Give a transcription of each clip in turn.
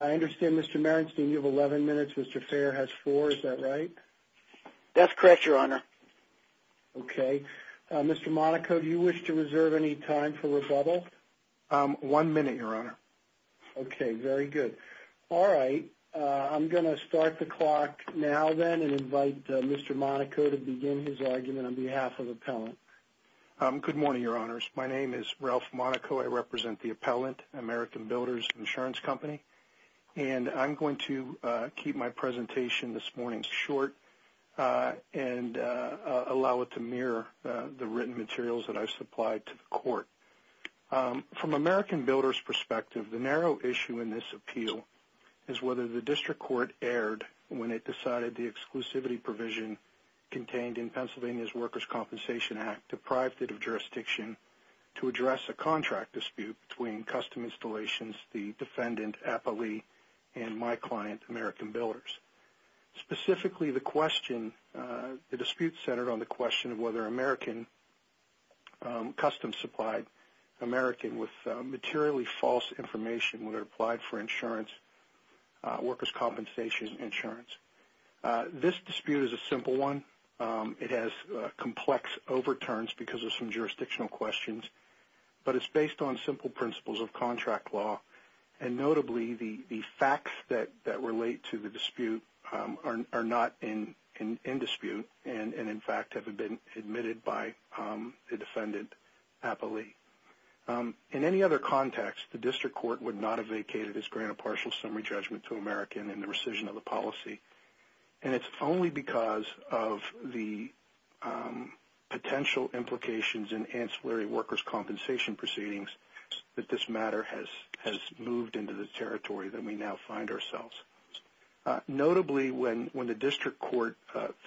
I understand, Mr. Merenstein, you have 11 minutes, Mr. Fair has 4, is that right? That's correct, Your Honor. Okay. Mr. Monaco, do you wish to reserve any time for rebuttal? One minute, Your Honor. Okay, very good. All right. I'm going to start the clock now, then, and invite Mr. Monaco to begin his argument on behalf of Appellant. Good morning, Your Honors. My name is Ralph Monaco. I represent the Appellant, American Builders Insurance Company, and I'm going to keep my presentation this morning short and allow it to mirror the written materials that I've supplied to the Court. From American Builders' perspective, the narrow issue in this appeal is whether the District Court erred when it decided the exclusivity provision contained in Pennsylvania's Workers' Compensation Act deprived it of jurisdiction to address a contract dispute between Custom Installations, the defendant, Appellee, and my client, American Builders. Specifically, the dispute centered on the question of whether Americans, custom-supplied Americans with materially false information, whether it applied for insurance, workers' compensation insurance. This dispute is a simple one. It has complex overturns because of some jurisdictional questions, but it's based on simple principles of contract law, and notably the facts that relate to the dispute are not in dispute and, in fact, have been admitted by the defendant, Appellee. In any other context, the District Court would not have vacated its grant of partial summary judgment to American in the rescission of the policy, and it's only because of the potential implications in ancillary workers' compensation proceedings that this matter has moved into the territory that we now find ourselves. Notably, when the District Court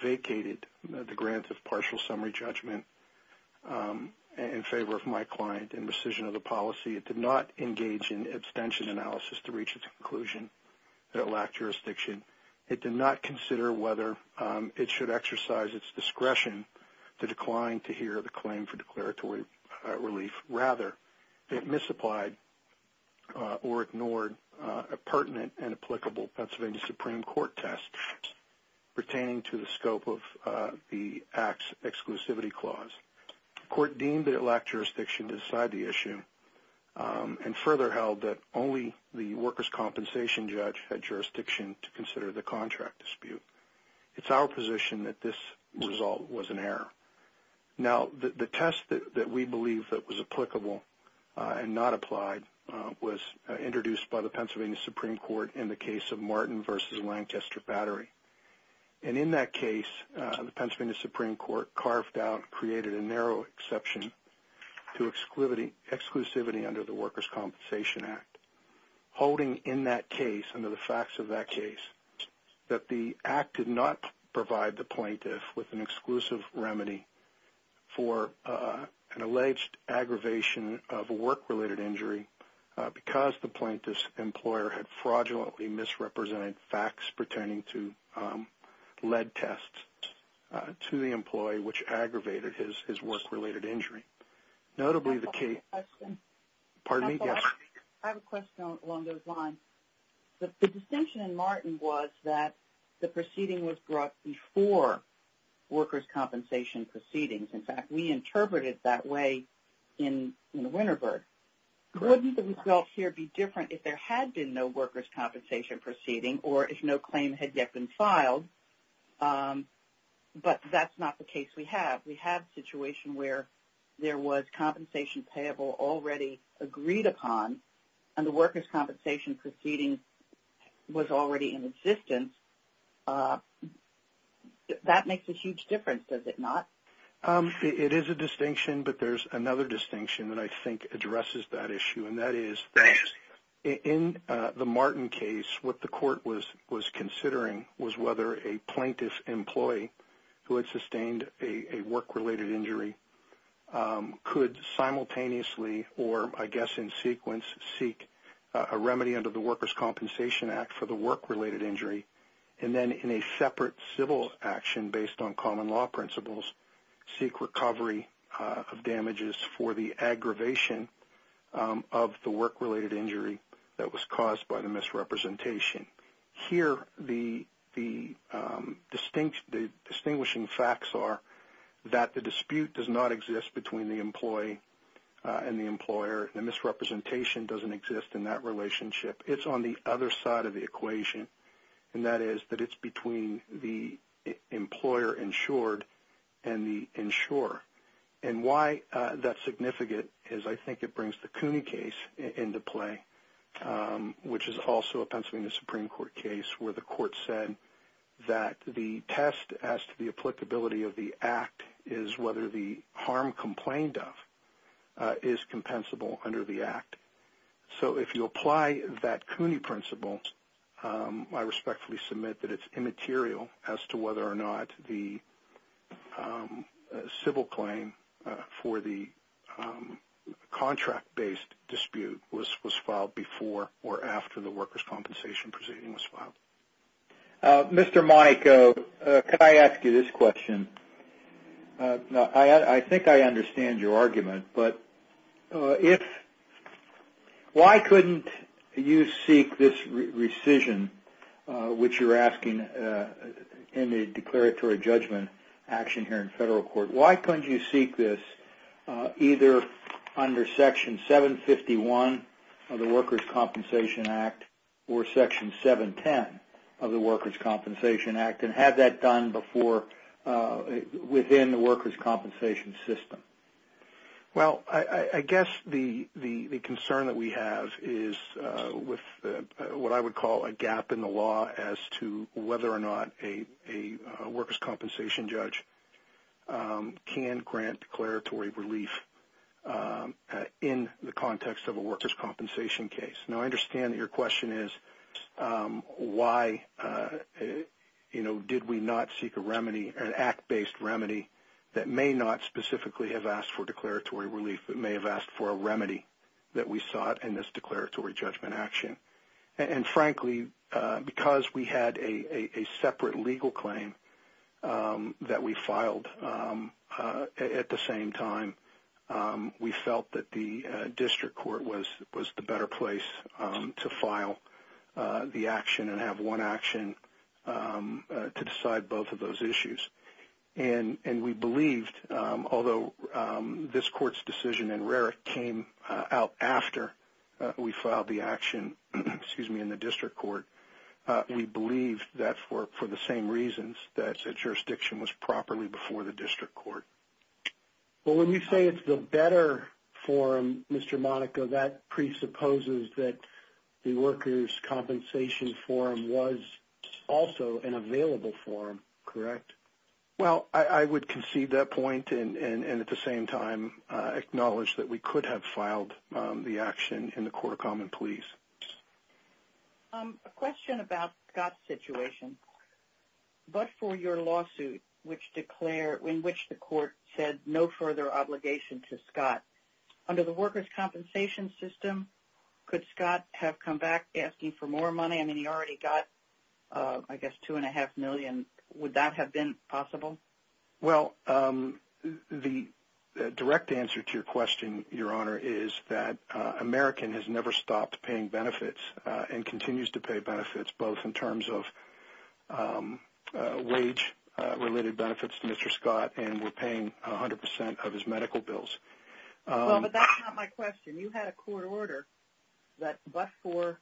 vacated the grant of partial summary judgment in favor of my client in rescission of the policy, it did not engage in abstention analysis to reach its conclusion that it lacked jurisdiction. It did not consider whether it should exercise its discretion to decline to hear the claim for declaratory relief. Rather, it misapplied or ignored a pertinent and applicable Pennsylvania Supreme Court test pertaining to the scope of the Act's exclusivity clause. The Court deemed that it lacked jurisdiction to decide the issue and further held that only the workers' compensation judge had jurisdiction to consider the contract dispute. It's our position that this result was an error. Now, the test that we believe that was applicable and not applied was introduced by the Pennsylvania Supreme Court in the case of Martin v. Lancaster Battery, and in that case, the Pennsylvania Supreme Court carved out and created a narrow exception to exclusivity under the Workers' Compensation Act, holding in that case, under the facts of that case, that the Act did not provide the plaintiff with an exclusive remedy for an alleged aggravation of a work-related injury because the plaintiff's employer had fraudulently misrepresented facts pertaining to lead tests to the employee which aggravated his work-related injury. Notably, the case... Pardon me? Yes. I have a question along those lines. The distinction in Martin was that the proceeding was brought before workers' compensation proceedings. In fact, we interpreted it that way in Winterberg. Wouldn't the result here be different if there had been no workers' compensation proceeding or if no claim had yet been filed? But that's not the case we have. We have a situation where there was compensation payable already agreed upon, and the workers' compensation proceeding was already in existence. That makes a huge difference, does it not? It is a distinction, but there's another distinction that I think addresses that issue, and that is that in the Martin case, what the court was considering was whether a plaintiff's employee who had sustained a work-related injury could simultaneously, or I guess in sequence, seek a remedy under the Workers' Compensation Act for the work-related injury and then in a separate civil action based on common law principles seek recovery of damages for the aggravation of the work-related injury that was caused by the misrepresentation. Here the distinguishing facts are that the dispute does not exist between the employee and the employer, and the misrepresentation doesn't exist in that relationship. It's on the other side of the equation, and that is that it's between the employer insured and the insurer. And why that's significant is I think it brings the Cooney case into play, which is also a Pennsylvania Supreme Court case where the court said that the test as to the applicability of the act is whether the harm complained of is compensable under the act. So if you apply that Cooney principle, I respectfully submit that it's immaterial as to whether or not the civil claim for the contract-based dispute was filed before or after the workers' compensation proceeding was filed. Mr. Monaco, can I ask you this question? I think I understand your argument, but why couldn't you seek this rescission, which you're asking in the declaratory judgment action here in federal court, why couldn't you seek this either under Section 751 of the Workers' Compensation Act or Section 710 of the Workers' Compensation Act and have that done before within the workers' compensation system? Well, I guess the concern that we have is with what I would call a gap in the law as to whether or not a workers' compensation judge can grant declaratory relief in the context of a workers' compensation case. Now, I understand that your question is why did we not seek an act-based remedy that may not specifically have asked for declaratory relief, but may have asked for a remedy that we sought in this declaratory judgment action. And frankly, because we had a separate legal claim that we filed at the same time, we felt that the district court was the better place to file the action and have one action to decide both of those issues. And we believed, although this court's decision in RERA came out after we filed the action in the district court, we believed that for the same reasons, that the jurisdiction was properly before the district court. Well, when you say it's the better forum, Mr. Monaco, that presupposes that the workers' compensation forum was also an available forum, correct? Well, I would concede that point and at the same time acknowledge that we could have filed the action in the Court of Common Pleas. A question about Scott's situation. But for your lawsuit in which the court said no further obligation to Scott, under the workers' compensation system, could Scott have come back asking for more money? I mean, he already got, I guess, $2.5 million. Would that have been possible? Well, the direct answer to your question, Your Honor, is that American has never stopped paying benefits and continues to pay benefits both in terms of wage-related benefits to Mr. Scott and we're paying 100% of his medical bills. Well, but that's not my question. You had a court order that, but for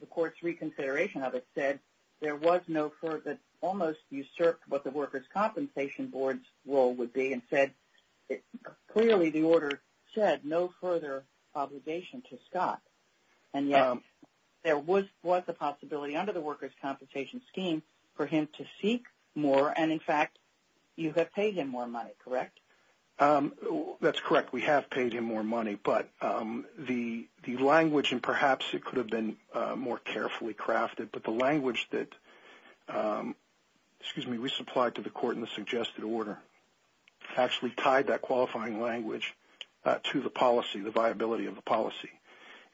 the court's reconsideration of it, said there was no further, almost usurped what the workers' compensation board's role would be and said clearly the order said no further obligation to Scott. And yet there was a possibility under the workers' compensation scheme for him to seek more and, in fact, you have paid him more money, correct? That's correct. We have paid him more money. But the language, and perhaps it could have been more carefully crafted, but the language that we supplied to the court in the suggested order actually tied that qualifying language to the policy, the viability of the policy.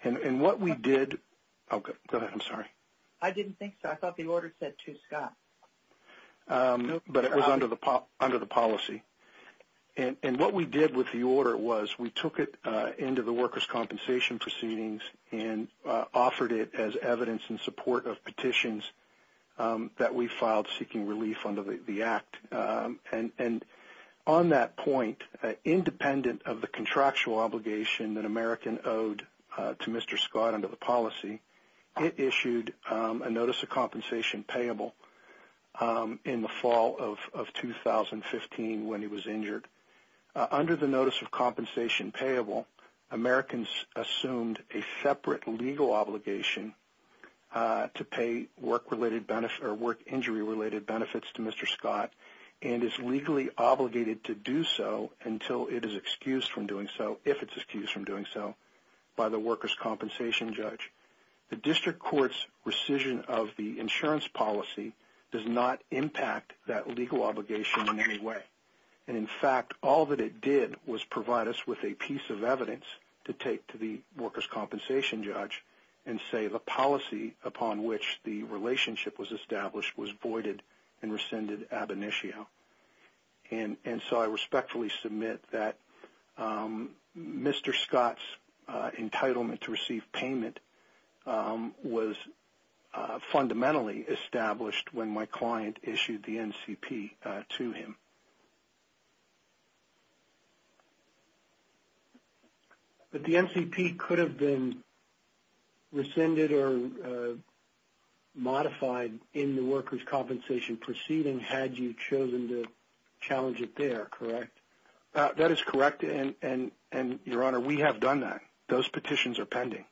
And what we did go ahead, I'm sorry. I didn't think so. I thought the order said to Scott. But it was under the policy. And what we did with the order was we took it into the workers' compensation proceedings and offered it as evidence in support of petitions that we filed seeking relief under the act. And on that point, independent of the contractual obligation that American owed to Mr. Scott under the policy, it issued a notice of compensation payable in the fall of 2015 when he was injured. Under the notice of compensation payable, Americans assumed a separate legal obligation to pay work injury-related benefits to Mr. Scott and is legally obligated to do so until it is excused from doing so, by the workers' compensation judge. The district court's rescission of the insurance policy does not impact that legal obligation in any way. And, in fact, all that it did was provide us with a piece of evidence to take to the workers' compensation judge and say the policy upon which the relationship was established was voided and rescinded ab initio. And so I respectfully submit that Mr. Scott's entitlement to receive payment was fundamentally established when my client issued the NCP to him. But the NCP could have been rescinded or modified in the workers' compensation proceeding had you chosen to challenge it there, correct? That is correct, and, Your Honor, we have done that. Those petitions are pending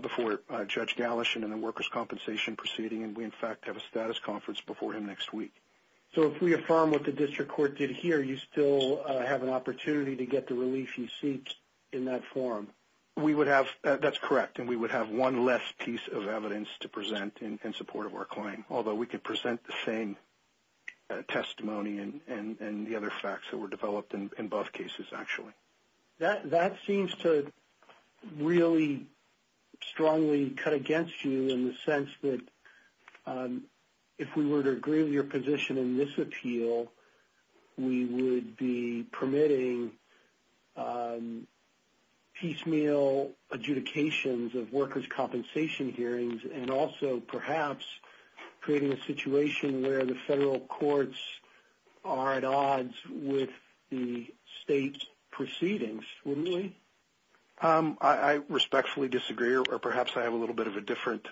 before Judge Galish in the workers' compensation proceeding, and we, in fact, have a status conference before him next week. So if we affirm what the district court did here, you still have an opportunity to get the relief you seek in that form? That's correct, and we would have one less piece of evidence to present in support of our claim, although we could present the same testimony and the other facts that were developed in both cases, actually. That seems to really strongly cut against you in the sense that if we were to agree with your position in this appeal, we would be permitting piecemeal adjudications of workers' compensation hearings and also perhaps creating a situation where the federal courts are at odds with the state proceedings, wouldn't we? I respectfully disagree, or perhaps I have a little bit of a different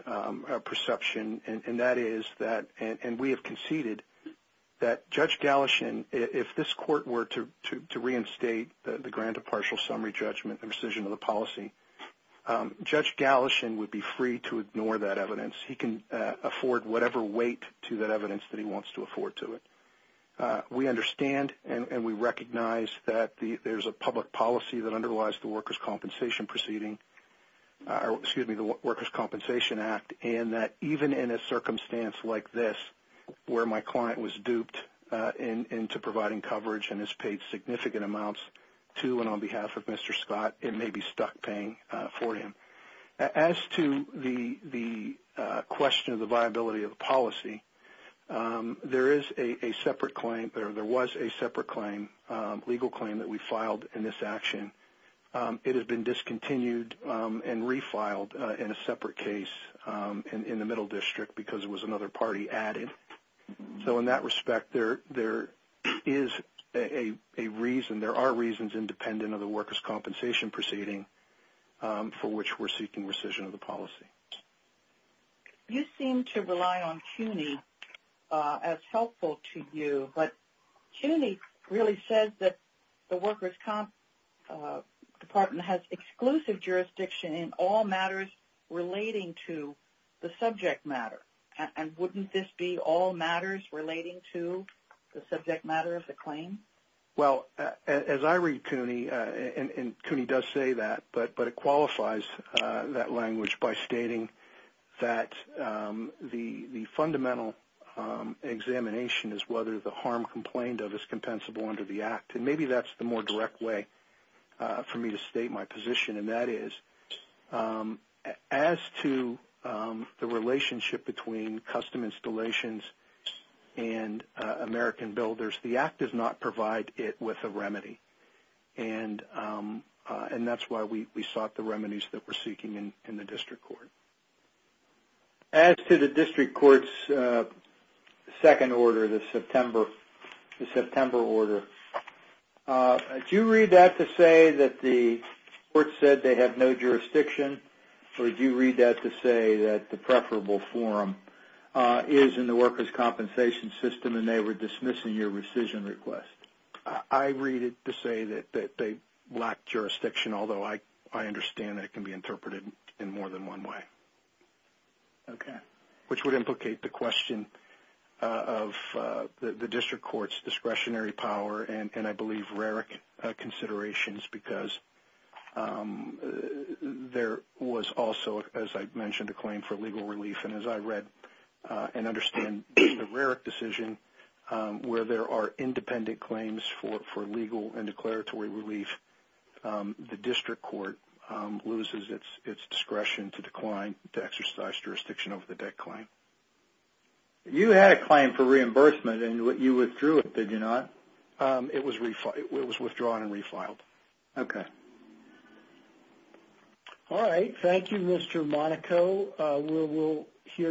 perception, and that is that we have conceded that Judge Galish, if this court were to reinstate the grant of partial summary judgment and rescission of the policy, Judge Galish would be free to ignore that evidence. He can afford whatever weight to that evidence that he wants to afford to it. We understand and we recognize that there's a public policy that underlies the workers' compensation proceeding, excuse me, the Workers' Compensation Act, and that even in a circumstance like this, where my client was duped into providing coverage and has paid significant amounts to and on behalf of Mr. Scott, it may be stuck paying for him. As to the question of the viability of the policy, there was a separate legal claim that we filed in this action. It has been discontinued and refiled in a separate case in the Middle District because it was another party added. So in that respect, there are reasons independent of the workers' compensation proceeding for which we're seeking rescission of the policy. You seem to rely on CUNY as helpful to you. But CUNY really says that the Workers' Comp Department has exclusive jurisdiction in all matters relating to the subject matter. And wouldn't this be all matters relating to the subject matter of the claim? Well, as I read CUNY, and CUNY does say that, but it qualifies that language by stating that the fundamental examination is whether the harm complained of is compensable under the act. And maybe that's the more direct way for me to state my position. And that is, as to the relationship between custom installations and American builders, the act does not provide it with a remedy. And that's why we sought the remedies that we're seeking in the district court. As to the district court's second order, the September order, do you read that to say that the court said they have no jurisdiction? Or do you read that to say that the preferable forum is in the workers' compensation system and they were dismissing your rescission request? I read it to say that they lack jurisdiction, although I understand that it can be interpreted in more than one way. Okay. Which would implicate the question of the district court's discretionary power and, I believe, RERIC considerations, because there was also, as I mentioned, a claim for legal relief. And as I read and understand the RERIC decision, where there are independent claims for legal and declaratory relief, the district court loses its discretion to decline to exercise jurisdiction over the debt claim. You had a claim for reimbursement, and you withdrew it, did you not? It was withdrawn and refiled. Okay. All right. Thank you, Mr. Monaco. We will hear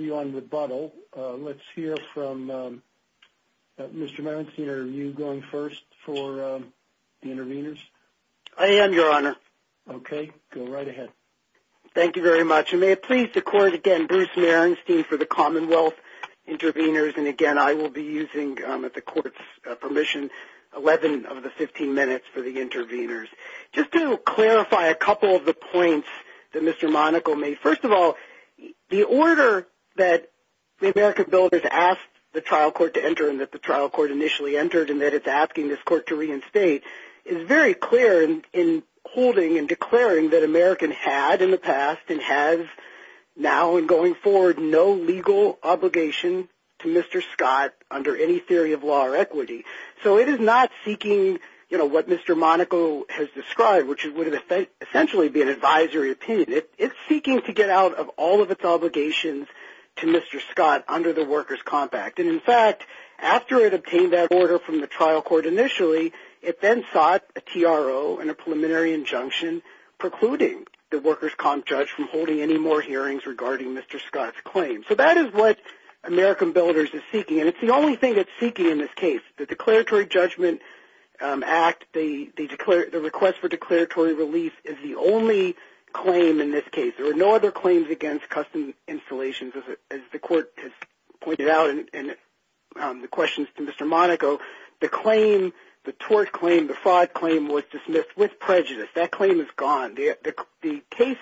you on rebuttal. Let's hear from Mr. Marenstein. Are you going first for the interveners? I am, Your Honor. Okay. Go right ahead. Thank you very much. And may it please the court, again, Bruce Marenstein for the Commonwealth interveners. And, again, I will be using, at the court's permission, 11 of the 15 minutes for the interveners. Just to clarify a couple of the points that Mr. Monaco made. First of all, the order that the American bill has asked the trial court to enter and that the trial court initially entered and that it's asking this court to reinstate is very clear in holding and declaring that American had in the past and has now and going forward no legal obligation to Mr. Scott under any theory of law or equity. So it is not seeking, you know, what Mr. Monaco has described, which would essentially be an advisory opinion. It's seeking to get out of all of its obligations to Mr. Scott under the workers' comp act. And, in fact, after it obtained that order from the trial court initially, it then sought a TRO and a preliminary injunction precluding the workers' comp judge from holding any more hearings regarding Mr. Scott's claim. So that is what American builders is seeking. And it's the only thing it's seeking in this case. The Declaratory Judgment Act, the request for declaratory relief is the only claim in this case. There are no other claims against custom installations. As the court has pointed out in the questions to Mr. Monaco, the claim, the tort claim, the fraud claim was dismissed with prejudice. That claim is gone. The case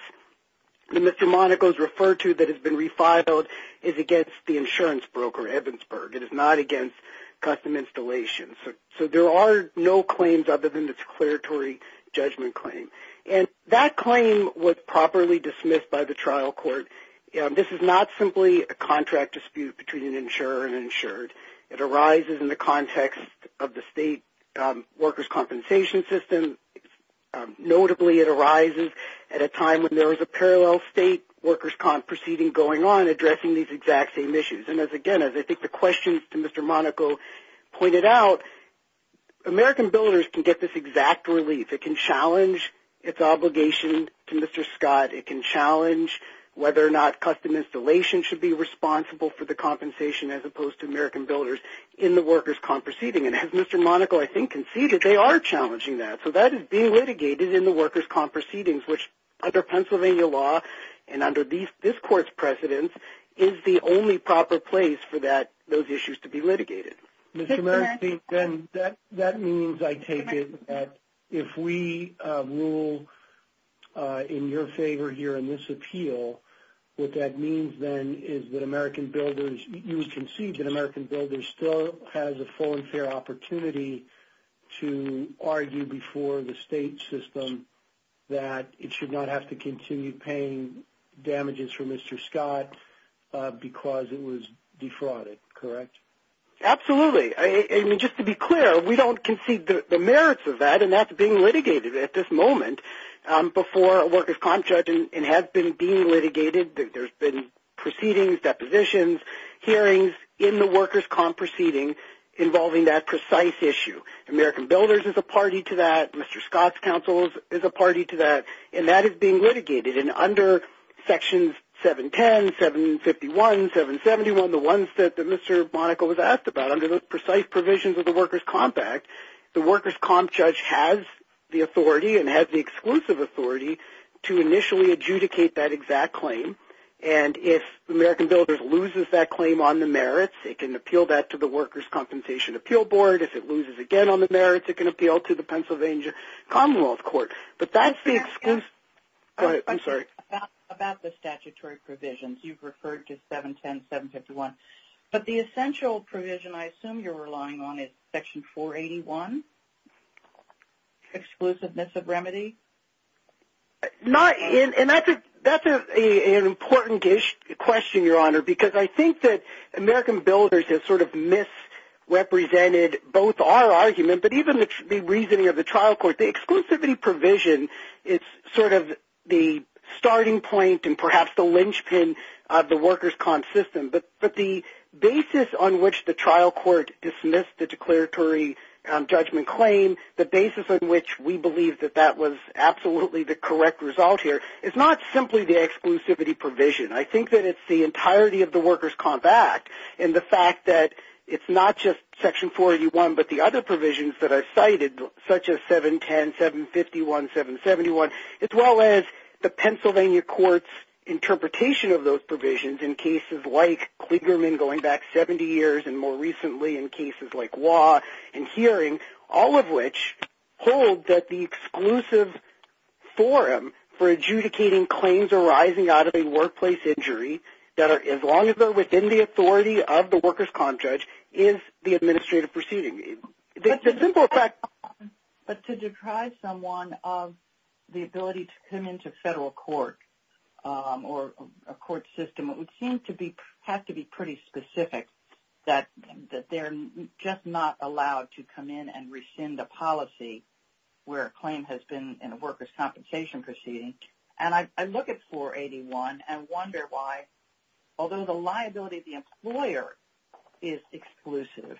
that Mr. Monaco has referred to that has been refiled is against the insurance broker, Evansburg. It is not against custom installations. So there are no claims other than the declaratory judgment claim. And that claim was properly dismissed by the trial court. This is not simply a contract dispute between an insurer and an insured. It arises in the context of the state workers' compensation system. Notably, it arises at a time when there is a parallel state workers' comp proceeding going on addressing these exact same issues. And, again, as I think the questions to Mr. Monaco pointed out, American builders can get this exact relief. It can challenge its obligation to Mr. Scott. It can challenge whether or not custom installations should be responsible for the compensation as opposed to American builders in the workers' comp proceeding. And as Mr. Monaco, I think, conceded, they are challenging that. So that is being litigated in the workers' comp proceedings, which under Pennsylvania law and under this court's precedence, is the only proper place for those issues to be litigated. Mr. Marasty, that means, I take it, that if we rule in your favor here in this appeal, what that means then is that American builders, you would concede that American builders still has a full and fair opportunity to argue before the state system that it should not have to continue paying damages for Mr. Scott because it was defrauded, correct? Absolutely. I mean, just to be clear, we don't concede the merits of that, and that's being litigated at this moment before a workers' comp judge, and has been being litigated. There's been proceedings, depositions, hearings in the workers' comp proceeding involving that precise issue. American builders is a party to that. Mr. Scott's counsel is a party to that, and that is being litigated. And under sections 710, 751, 771, the ones that Mr. Monaco was asked about, under the precise provisions of the workers' comp act, the workers' comp judge has the authority and has the exclusive authority to initially adjudicate that exact claim. And if American builders loses that claim on the merits, it can appeal that to the workers' compensation appeal board. If it loses again on the merits, it can appeal to the Pennsylvania Commonwealth Court. But that's the exclusive – I'm sorry. About the statutory provisions, you've referred to 710, 751. But the essential provision I assume you're relying on is section 481, exclusiveness of remedy? And that's an important question, Your Honor, because I think that American builders has sort of misrepresented both our argument, but even the reasoning of the trial court. The exclusivity provision is sort of the starting point and perhaps the linchpin of the workers' comp system. But the basis on which the trial court dismissed the declaratory judgment claim, the basis on which we believe that that was absolutely the correct result here, is not simply the exclusivity provision. I think that it's the entirety of the workers' comp act and the fact that it's not just section 481, but the other provisions that are cited, such as 710, 751, 771, as well as the Pennsylvania court's interpretation of those provisions in cases like Kligerman going back 70 years and more recently in cases like Waugh and Hearing, all of which hold that the exclusive forum for adjudicating claims arising out of a workplace injury that are as long as they're within the authority of the workers' comp judge is the administrative proceeding. The simple fact... But to deprive someone of the ability to come into federal court or a court system, it would seem to have to be pretty specific that they're just not allowed to come in and rescind a policy where a claim has been in a workers' compensation proceeding. And I look at 481 and wonder why, although the liability of the employer is exclusive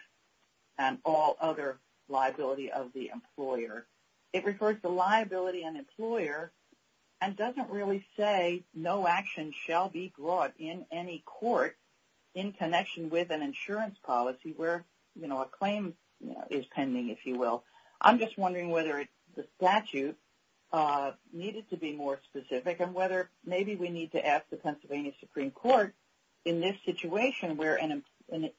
and all other liability of the employer, it refers to liability and employer and doesn't really say no action shall be brought in any court in connection with an insurance policy where, you know, a claim is pending, if you will. I'm just wondering whether the statute needed to be more specific and whether maybe we need to ask the Pennsylvania Supreme Court, in this situation where an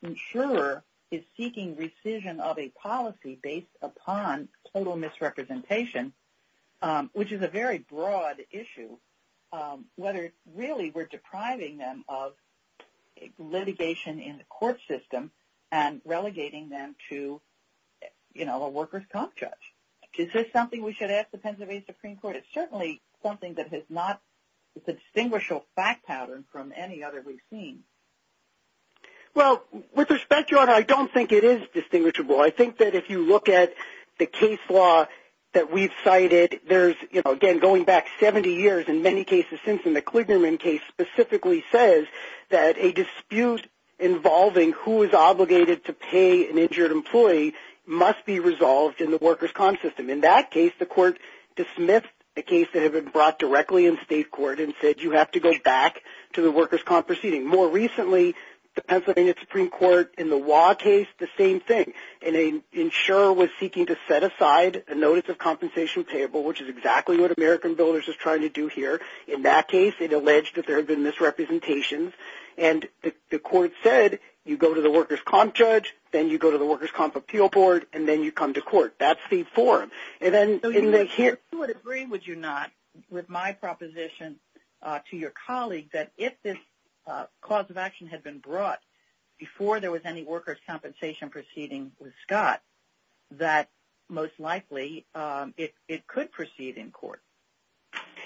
insurer is seeking rescission of a policy based upon total misrepresentation, which is a very broad issue, whether really we're depriving them of litigation in the court system and relegating them to, you know, a workers' comp judge. Is this something we should ask the Pennsylvania Supreme Court? It's certainly something that has not... It's a distinguishable fact pattern from any other we've seen. Well, with respect, Your Honor, I don't think it is distinguishable. I think that if you look at the case law that we've cited, there's, you know, again, going back 70 years, in many cases, since in the Klingerman case specifically says that a dispute involving who is obligated to pay an injured employee must be resolved in the workers' comp system. In that case, the court dismissed a case that had been brought directly in state court and said you have to go back to the workers' comp proceeding. More recently, the Pennsylvania Supreme Court, in the Waugh case, the same thing. An insurer was seeking to set aside a notice of compensation payable, which is exactly what American Voters is trying to do here. In that case, it alleged that there had been misrepresentations, and the court said you go to the workers' comp judge, then you go to the workers' comp appeal board, and then you come to court. That's the forum. So you would agree, would you not, with my proposition to your colleague, that if this cause of action had been brought before there was any workers' compensation proceeding with Scott, that most likely it could proceed in court?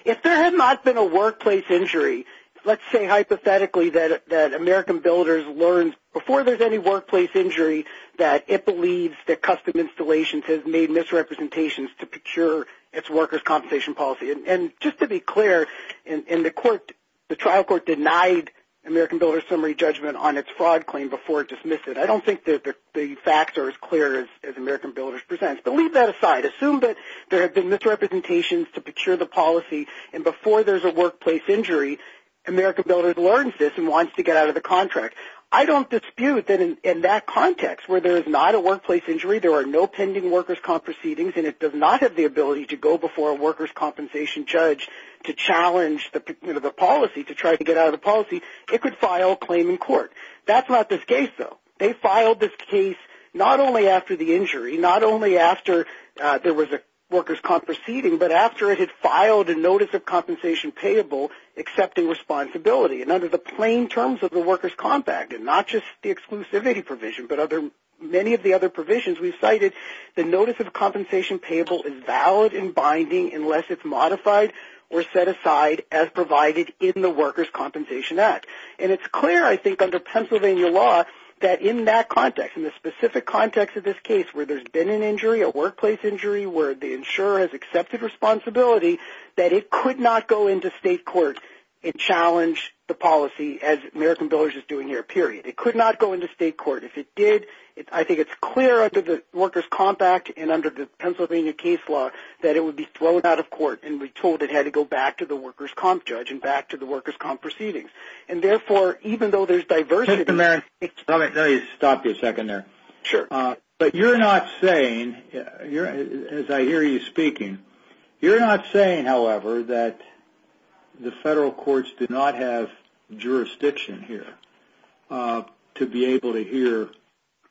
If there had not been a workplace injury, let's say hypothetically that American Builders learned before there's any workplace injury that it believes that Custom Installations has made misrepresentations to procure its workers' compensation policy. And just to be clear, the trial court denied American Builders' summary judgment on its fraud claim before it dismissed it. I don't think the facts are as clear as American Builders presents, but leave that aside. Assume that there have been misrepresentations to procure the policy, and before there's a workplace injury, American Builders learns this and wants to get out of the contract. I don't dispute that in that context, where there is not a workplace injury, there are no pending workers' comp proceedings, and it does not have the ability to go before a workers' compensation judge to challenge the policy, to try to get out of the policy, it could file a claim in court. That's not this case, though. They filed this case not only after the injury, not only after there was a workers' comp proceeding, but after it had filed a notice of compensation payable accepting responsibility. And under the plain terms of the workers' compact, and not just the exclusivity provision, but many of the other provisions we've cited, the notice of compensation payable is valid and binding unless it's modified or set aside as provided in the Workers' Compensation Act. And it's clear, I think, under Pennsylvania law, that in that context, in the specific context of this case where there's been an injury, a workplace injury, where the insurer has accepted responsibility, that it could not go into state court and challenge the policy as American Builders is doing here, period. It could not go into state court. If it did, I think it's clear under the Workers' Comp Act and under the Pennsylvania case law that it would be thrown out of court and be told it had to go back to the workers' comp judge and back to the workers' comp proceedings. And therefore, even though there's diversity... Mr. Marin. Let me stop you a second there. Sure. But you're not saying, as I hear you speaking, you're not saying, however, that the federal courts do not have jurisdiction here to be able to hear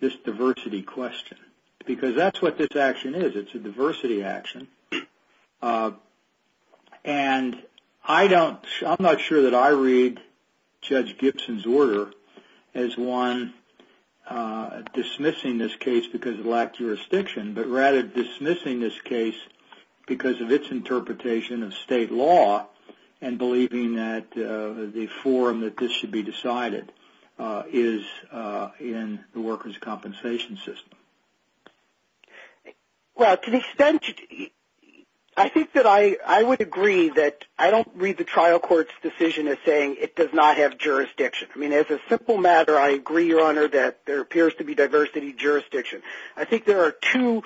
this diversity question because that's what this action is. It's a diversity action. And I'm not sure that I read Judge Gibson's order as one dismissing this case because it lacked jurisdiction, but rather dismissing this case because of its interpretation of state law and believing that the forum that this should be decided is in the workers' compensation system. Well, to the extent... I think that I would agree that I don't read the trial court's decision as saying it does not have jurisdiction. I mean, as a simple matter, I agree, Your Honor, that there appears to be diversity jurisdiction. I think there are two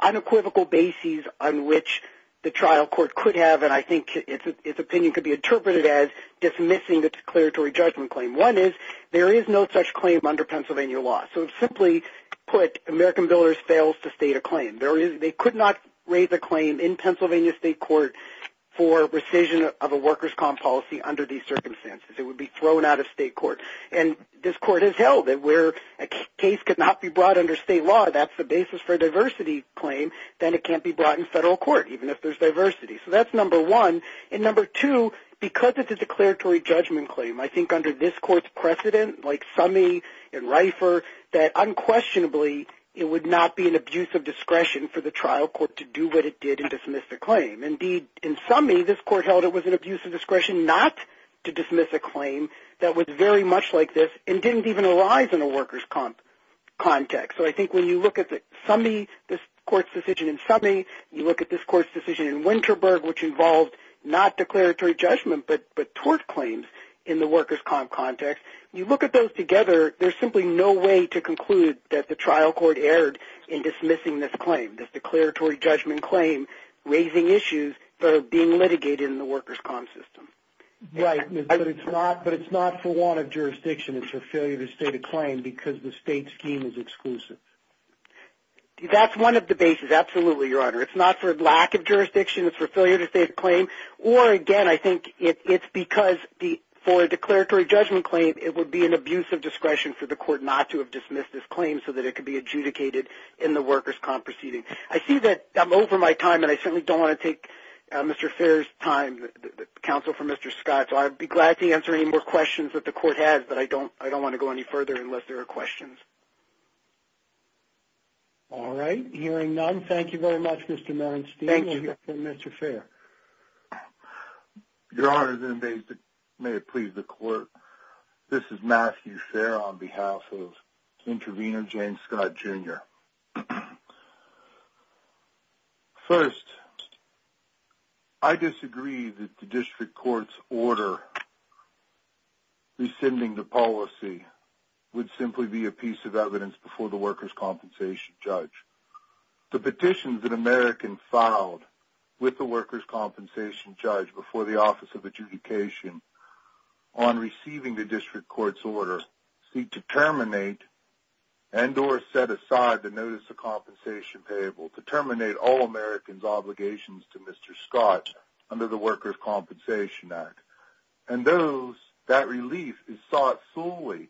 unequivocal bases on which the trial court could have, and I think its opinion could be interpreted as dismissing the declaratory judgment claim. One is there is no such claim under Pennsylvania law. So simply put, American Builders fails to state a claim. They could not raise a claim in Pennsylvania state court for rescission of a workers' comp policy under these circumstances. It would be thrown out of state court. And this court has held that where a case could not be brought under state law, that's the basis for a diversity claim, then it can't be brought in federal court, even if there's diversity. So that's number one. And number two, because it's a declaratory judgment claim, I think under this court's precedent, like Summey and Reifer, that unquestionably it would not be an abuse of discretion for the trial court to do what it did and dismiss the claim. Indeed, in Summey, this court held it was an abuse of discretion not to dismiss a claim that was very much like this and didn't even arise in a workers' comp context. So I think when you look at Summey, this court's decision in Summey, you look at this court's decision in Winterberg, which involved not declaratory judgment, but tort claims in the workers' comp context, you look at those together, there's simply no way to conclude that the trial court erred in dismissing this claim, this declaratory judgment claim raising issues that are being litigated in the workers' comp system. Right, but it's not for want of jurisdiction. It's a failure to state a claim because the state scheme is exclusive. That's one of the bases, absolutely, Your Honor. It's not for lack of jurisdiction, it's for failure to state a claim, or again, I think it's because for a declaratory judgment claim, it would be an abuse of discretion for the court not to have dismissed this claim so that it could be adjudicated in the workers' comp proceeding. I see that I'm over my time, and I certainly don't want to take Mr. Fair's time, counsel for Mr. Scott, so I'd be glad to answer any more questions that the court has, but I don't want to go any further unless there are questions. All right, hearing none, thank you very much, Mr. Melenstein. Thank you. We'll hear from Mr. Fair. Your Honor, and may it please the court, this is Matthew Fair on behalf of intervener Jane Scott, Jr. First, I disagree that the district court's order rescinding the policy would simply be a piece of evidence before the workers' compensation judge. The petitions that Americans filed with the workers' compensation judge before the Office of Adjudication on receiving the district court's order seek to terminate and or set aside the notice of compensation payable, to terminate all Americans' obligations to Mr. Scott under the Workers' Compensation Act. And that relief is sought solely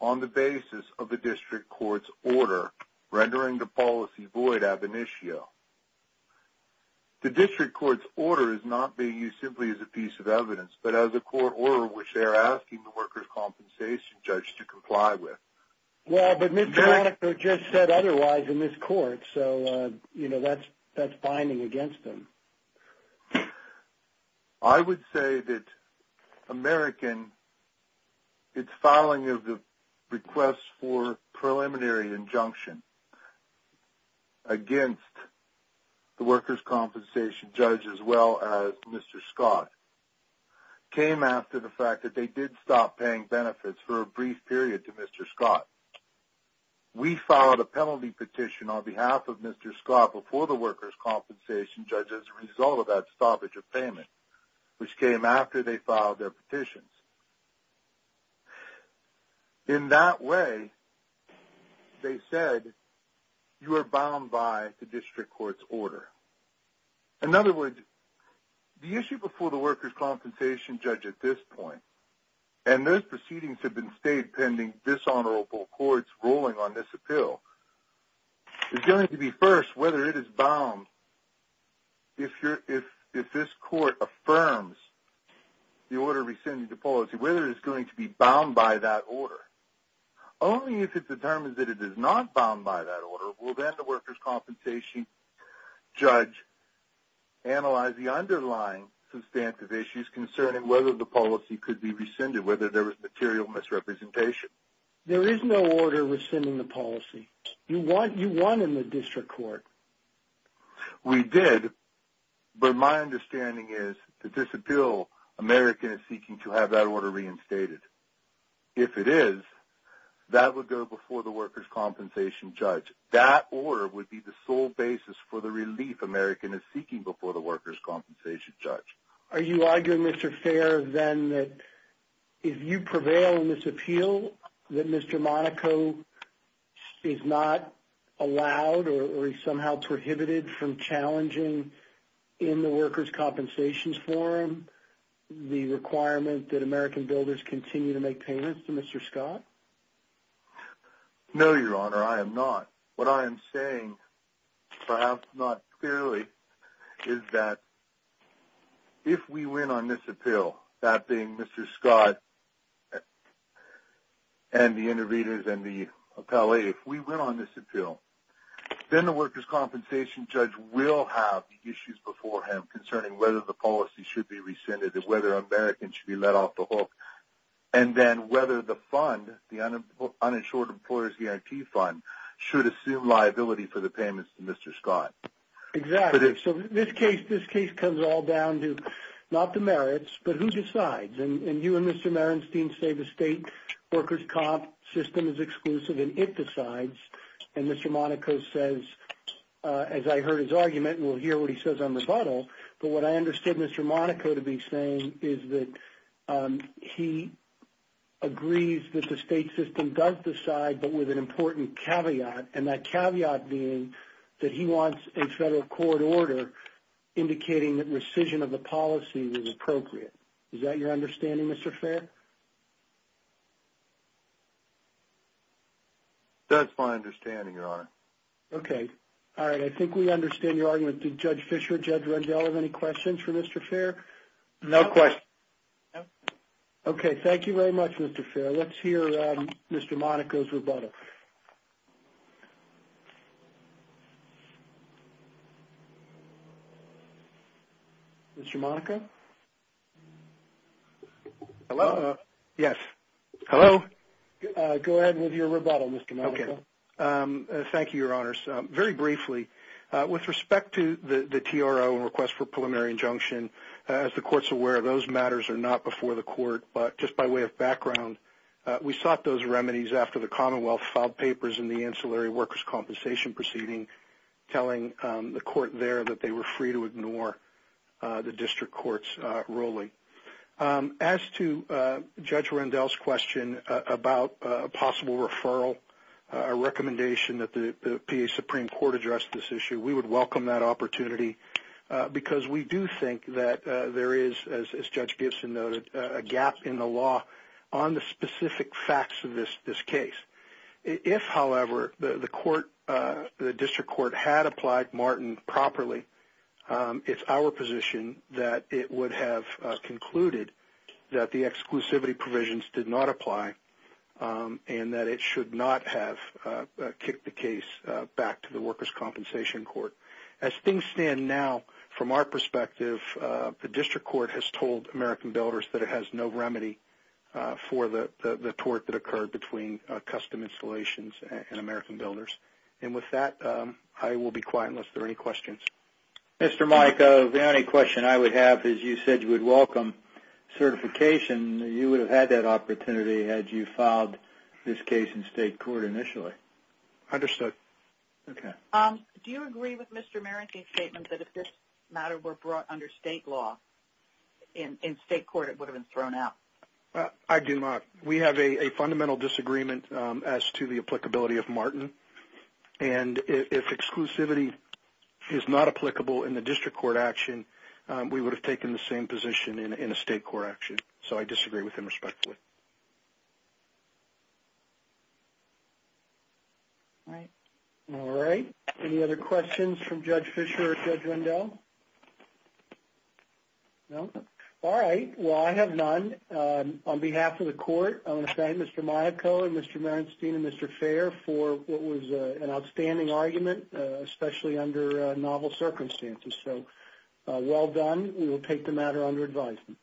on the basis of the district court's order rendering the policy void ab initio. The district court's order is not being used simply as a piece of evidence, but as a court order which they are asking the workers' compensation judge to comply with. Well, but Mr. Honecker just said otherwise in this court, so, you know, that's binding against him. I would say that American, its filing of the request for preliminary injunction against the workers' compensation judge as well as Mr. Scott came after the fact that they did stop paying benefits for a brief period to Mr. Scott. We filed a penalty petition on behalf of Mr. Scott before the workers' compensation judge as a result of that stoppage of payment, which came after they filed their petitions. In that way, they said, you are bound by the district court's order. In other words, the issue before the workers' compensation judge at this point, and those proceedings have been stayed pending this honorable court's ruling on this appeal, is going to be first whether it is bound if this court affirms the order rescinding the policy, whether it is going to be bound by that order. Only if it determines that it is not bound by that order will then the workers' compensation judge analyze the underlying substantive issues concerning whether the policy could be rescinded, whether there was material misrepresentation. There is no order rescinding the policy. You won in the district court. We did, but my understanding is that this appeal, American is seeking to have that order reinstated. If it is, that would go before the workers' compensation judge. That order would be the sole basis for the relief American is seeking before the workers' compensation judge. Are you arguing, Mr. Fair, then, that if you prevail in this appeal, that Mr. Monaco is not allowed or is somehow prohibited from challenging, in the workers' compensations forum, the requirement that American builders continue to make payments to Mr. Scott? No, Your Honor, I am not. What I am saying, perhaps not clearly, is that if we win on this appeal, that being Mr. Scott and the interveners and the appellee, if we win on this appeal, then the workers' compensation judge will have the issues before him concerning whether the policy should be rescinded and whether American should be let off the hook, and then whether the fund, the Uninsured Employer's Guarantee Fund, should assume liability for the payments to Mr. Scott. Exactly. So this case comes all down to not the merits, but who decides, and you and Mr. Merenstein say the state workers' comp system is exclusive and it decides, and Mr. Monaco says, as I heard his argument, and we'll hear what he says on rebuttal, but what I understood Mr. Monaco to be saying is that he agrees that the state system does decide, but with an important caveat, and that caveat being that he wants a federal court order indicating that rescission of the policy is appropriate. Is that your understanding, Mr. Fair? That's my understanding, Your Honor. Okay. All right, I think we understand your argument. Did Judge Fischer, Judge Rendell have any questions for Mr. Fair? No questions. Okay, thank you very much, Mr. Fair. Let's hear Mr. Monaco's rebuttal. Mr. Monaco? Hello? Yes. Hello? Go ahead with your rebuttal, Mr. Monaco. Okay. Thank you, Your Honors. Very briefly, with respect to the TRO and request for preliminary injunction, as the Court's aware, those matters are not before the Court, but just by way of background, we sought those remedies after the Commonwealth filed the TRO and filed papers in the ancillary workers' compensation proceeding, telling the Court there that they were free to ignore the district court's ruling. As to Judge Rendell's question about a possible referral, a recommendation that the PA Supreme Court address this issue, we would welcome that opportunity because we do think that there is, as Judge Gibson noted, a gap in the law on the specific facts of this case. If, however, the district court had applied Martin properly, it's our position that it would have concluded that the exclusivity provisions did not apply and that it should not have kicked the case back to the workers' compensation court. As things stand now, from our perspective, the district court has told American builders that it has no remedy for the tort that occurred between custom installations and American builders. And with that, I will be quiet unless there are any questions. Mr. Monaco, the only question I would have is you said you would welcome certification. You would have had that opportunity had you filed this case in state court initially. Understood. Okay. Do you agree with Mr. Merrick's statement that if this matter were brought under state law, in state court it would have been thrown out? I do not. We have a fundamental disagreement as to the applicability of Martin. And if exclusivity is not applicable in the district court action, we would have taken the same position in a state court action. So I disagree with him respectfully. All right. All right. Any other questions from Judge Fischer or Judge Rendell? No? All right. Well, I have none. On behalf of the court, I want to thank Mr. Monaco and Mr. Merenstein and Mr. Fair for what was an outstanding argument, especially under novel circumstances. We will take the matter under advisement. Thank you. Thank you.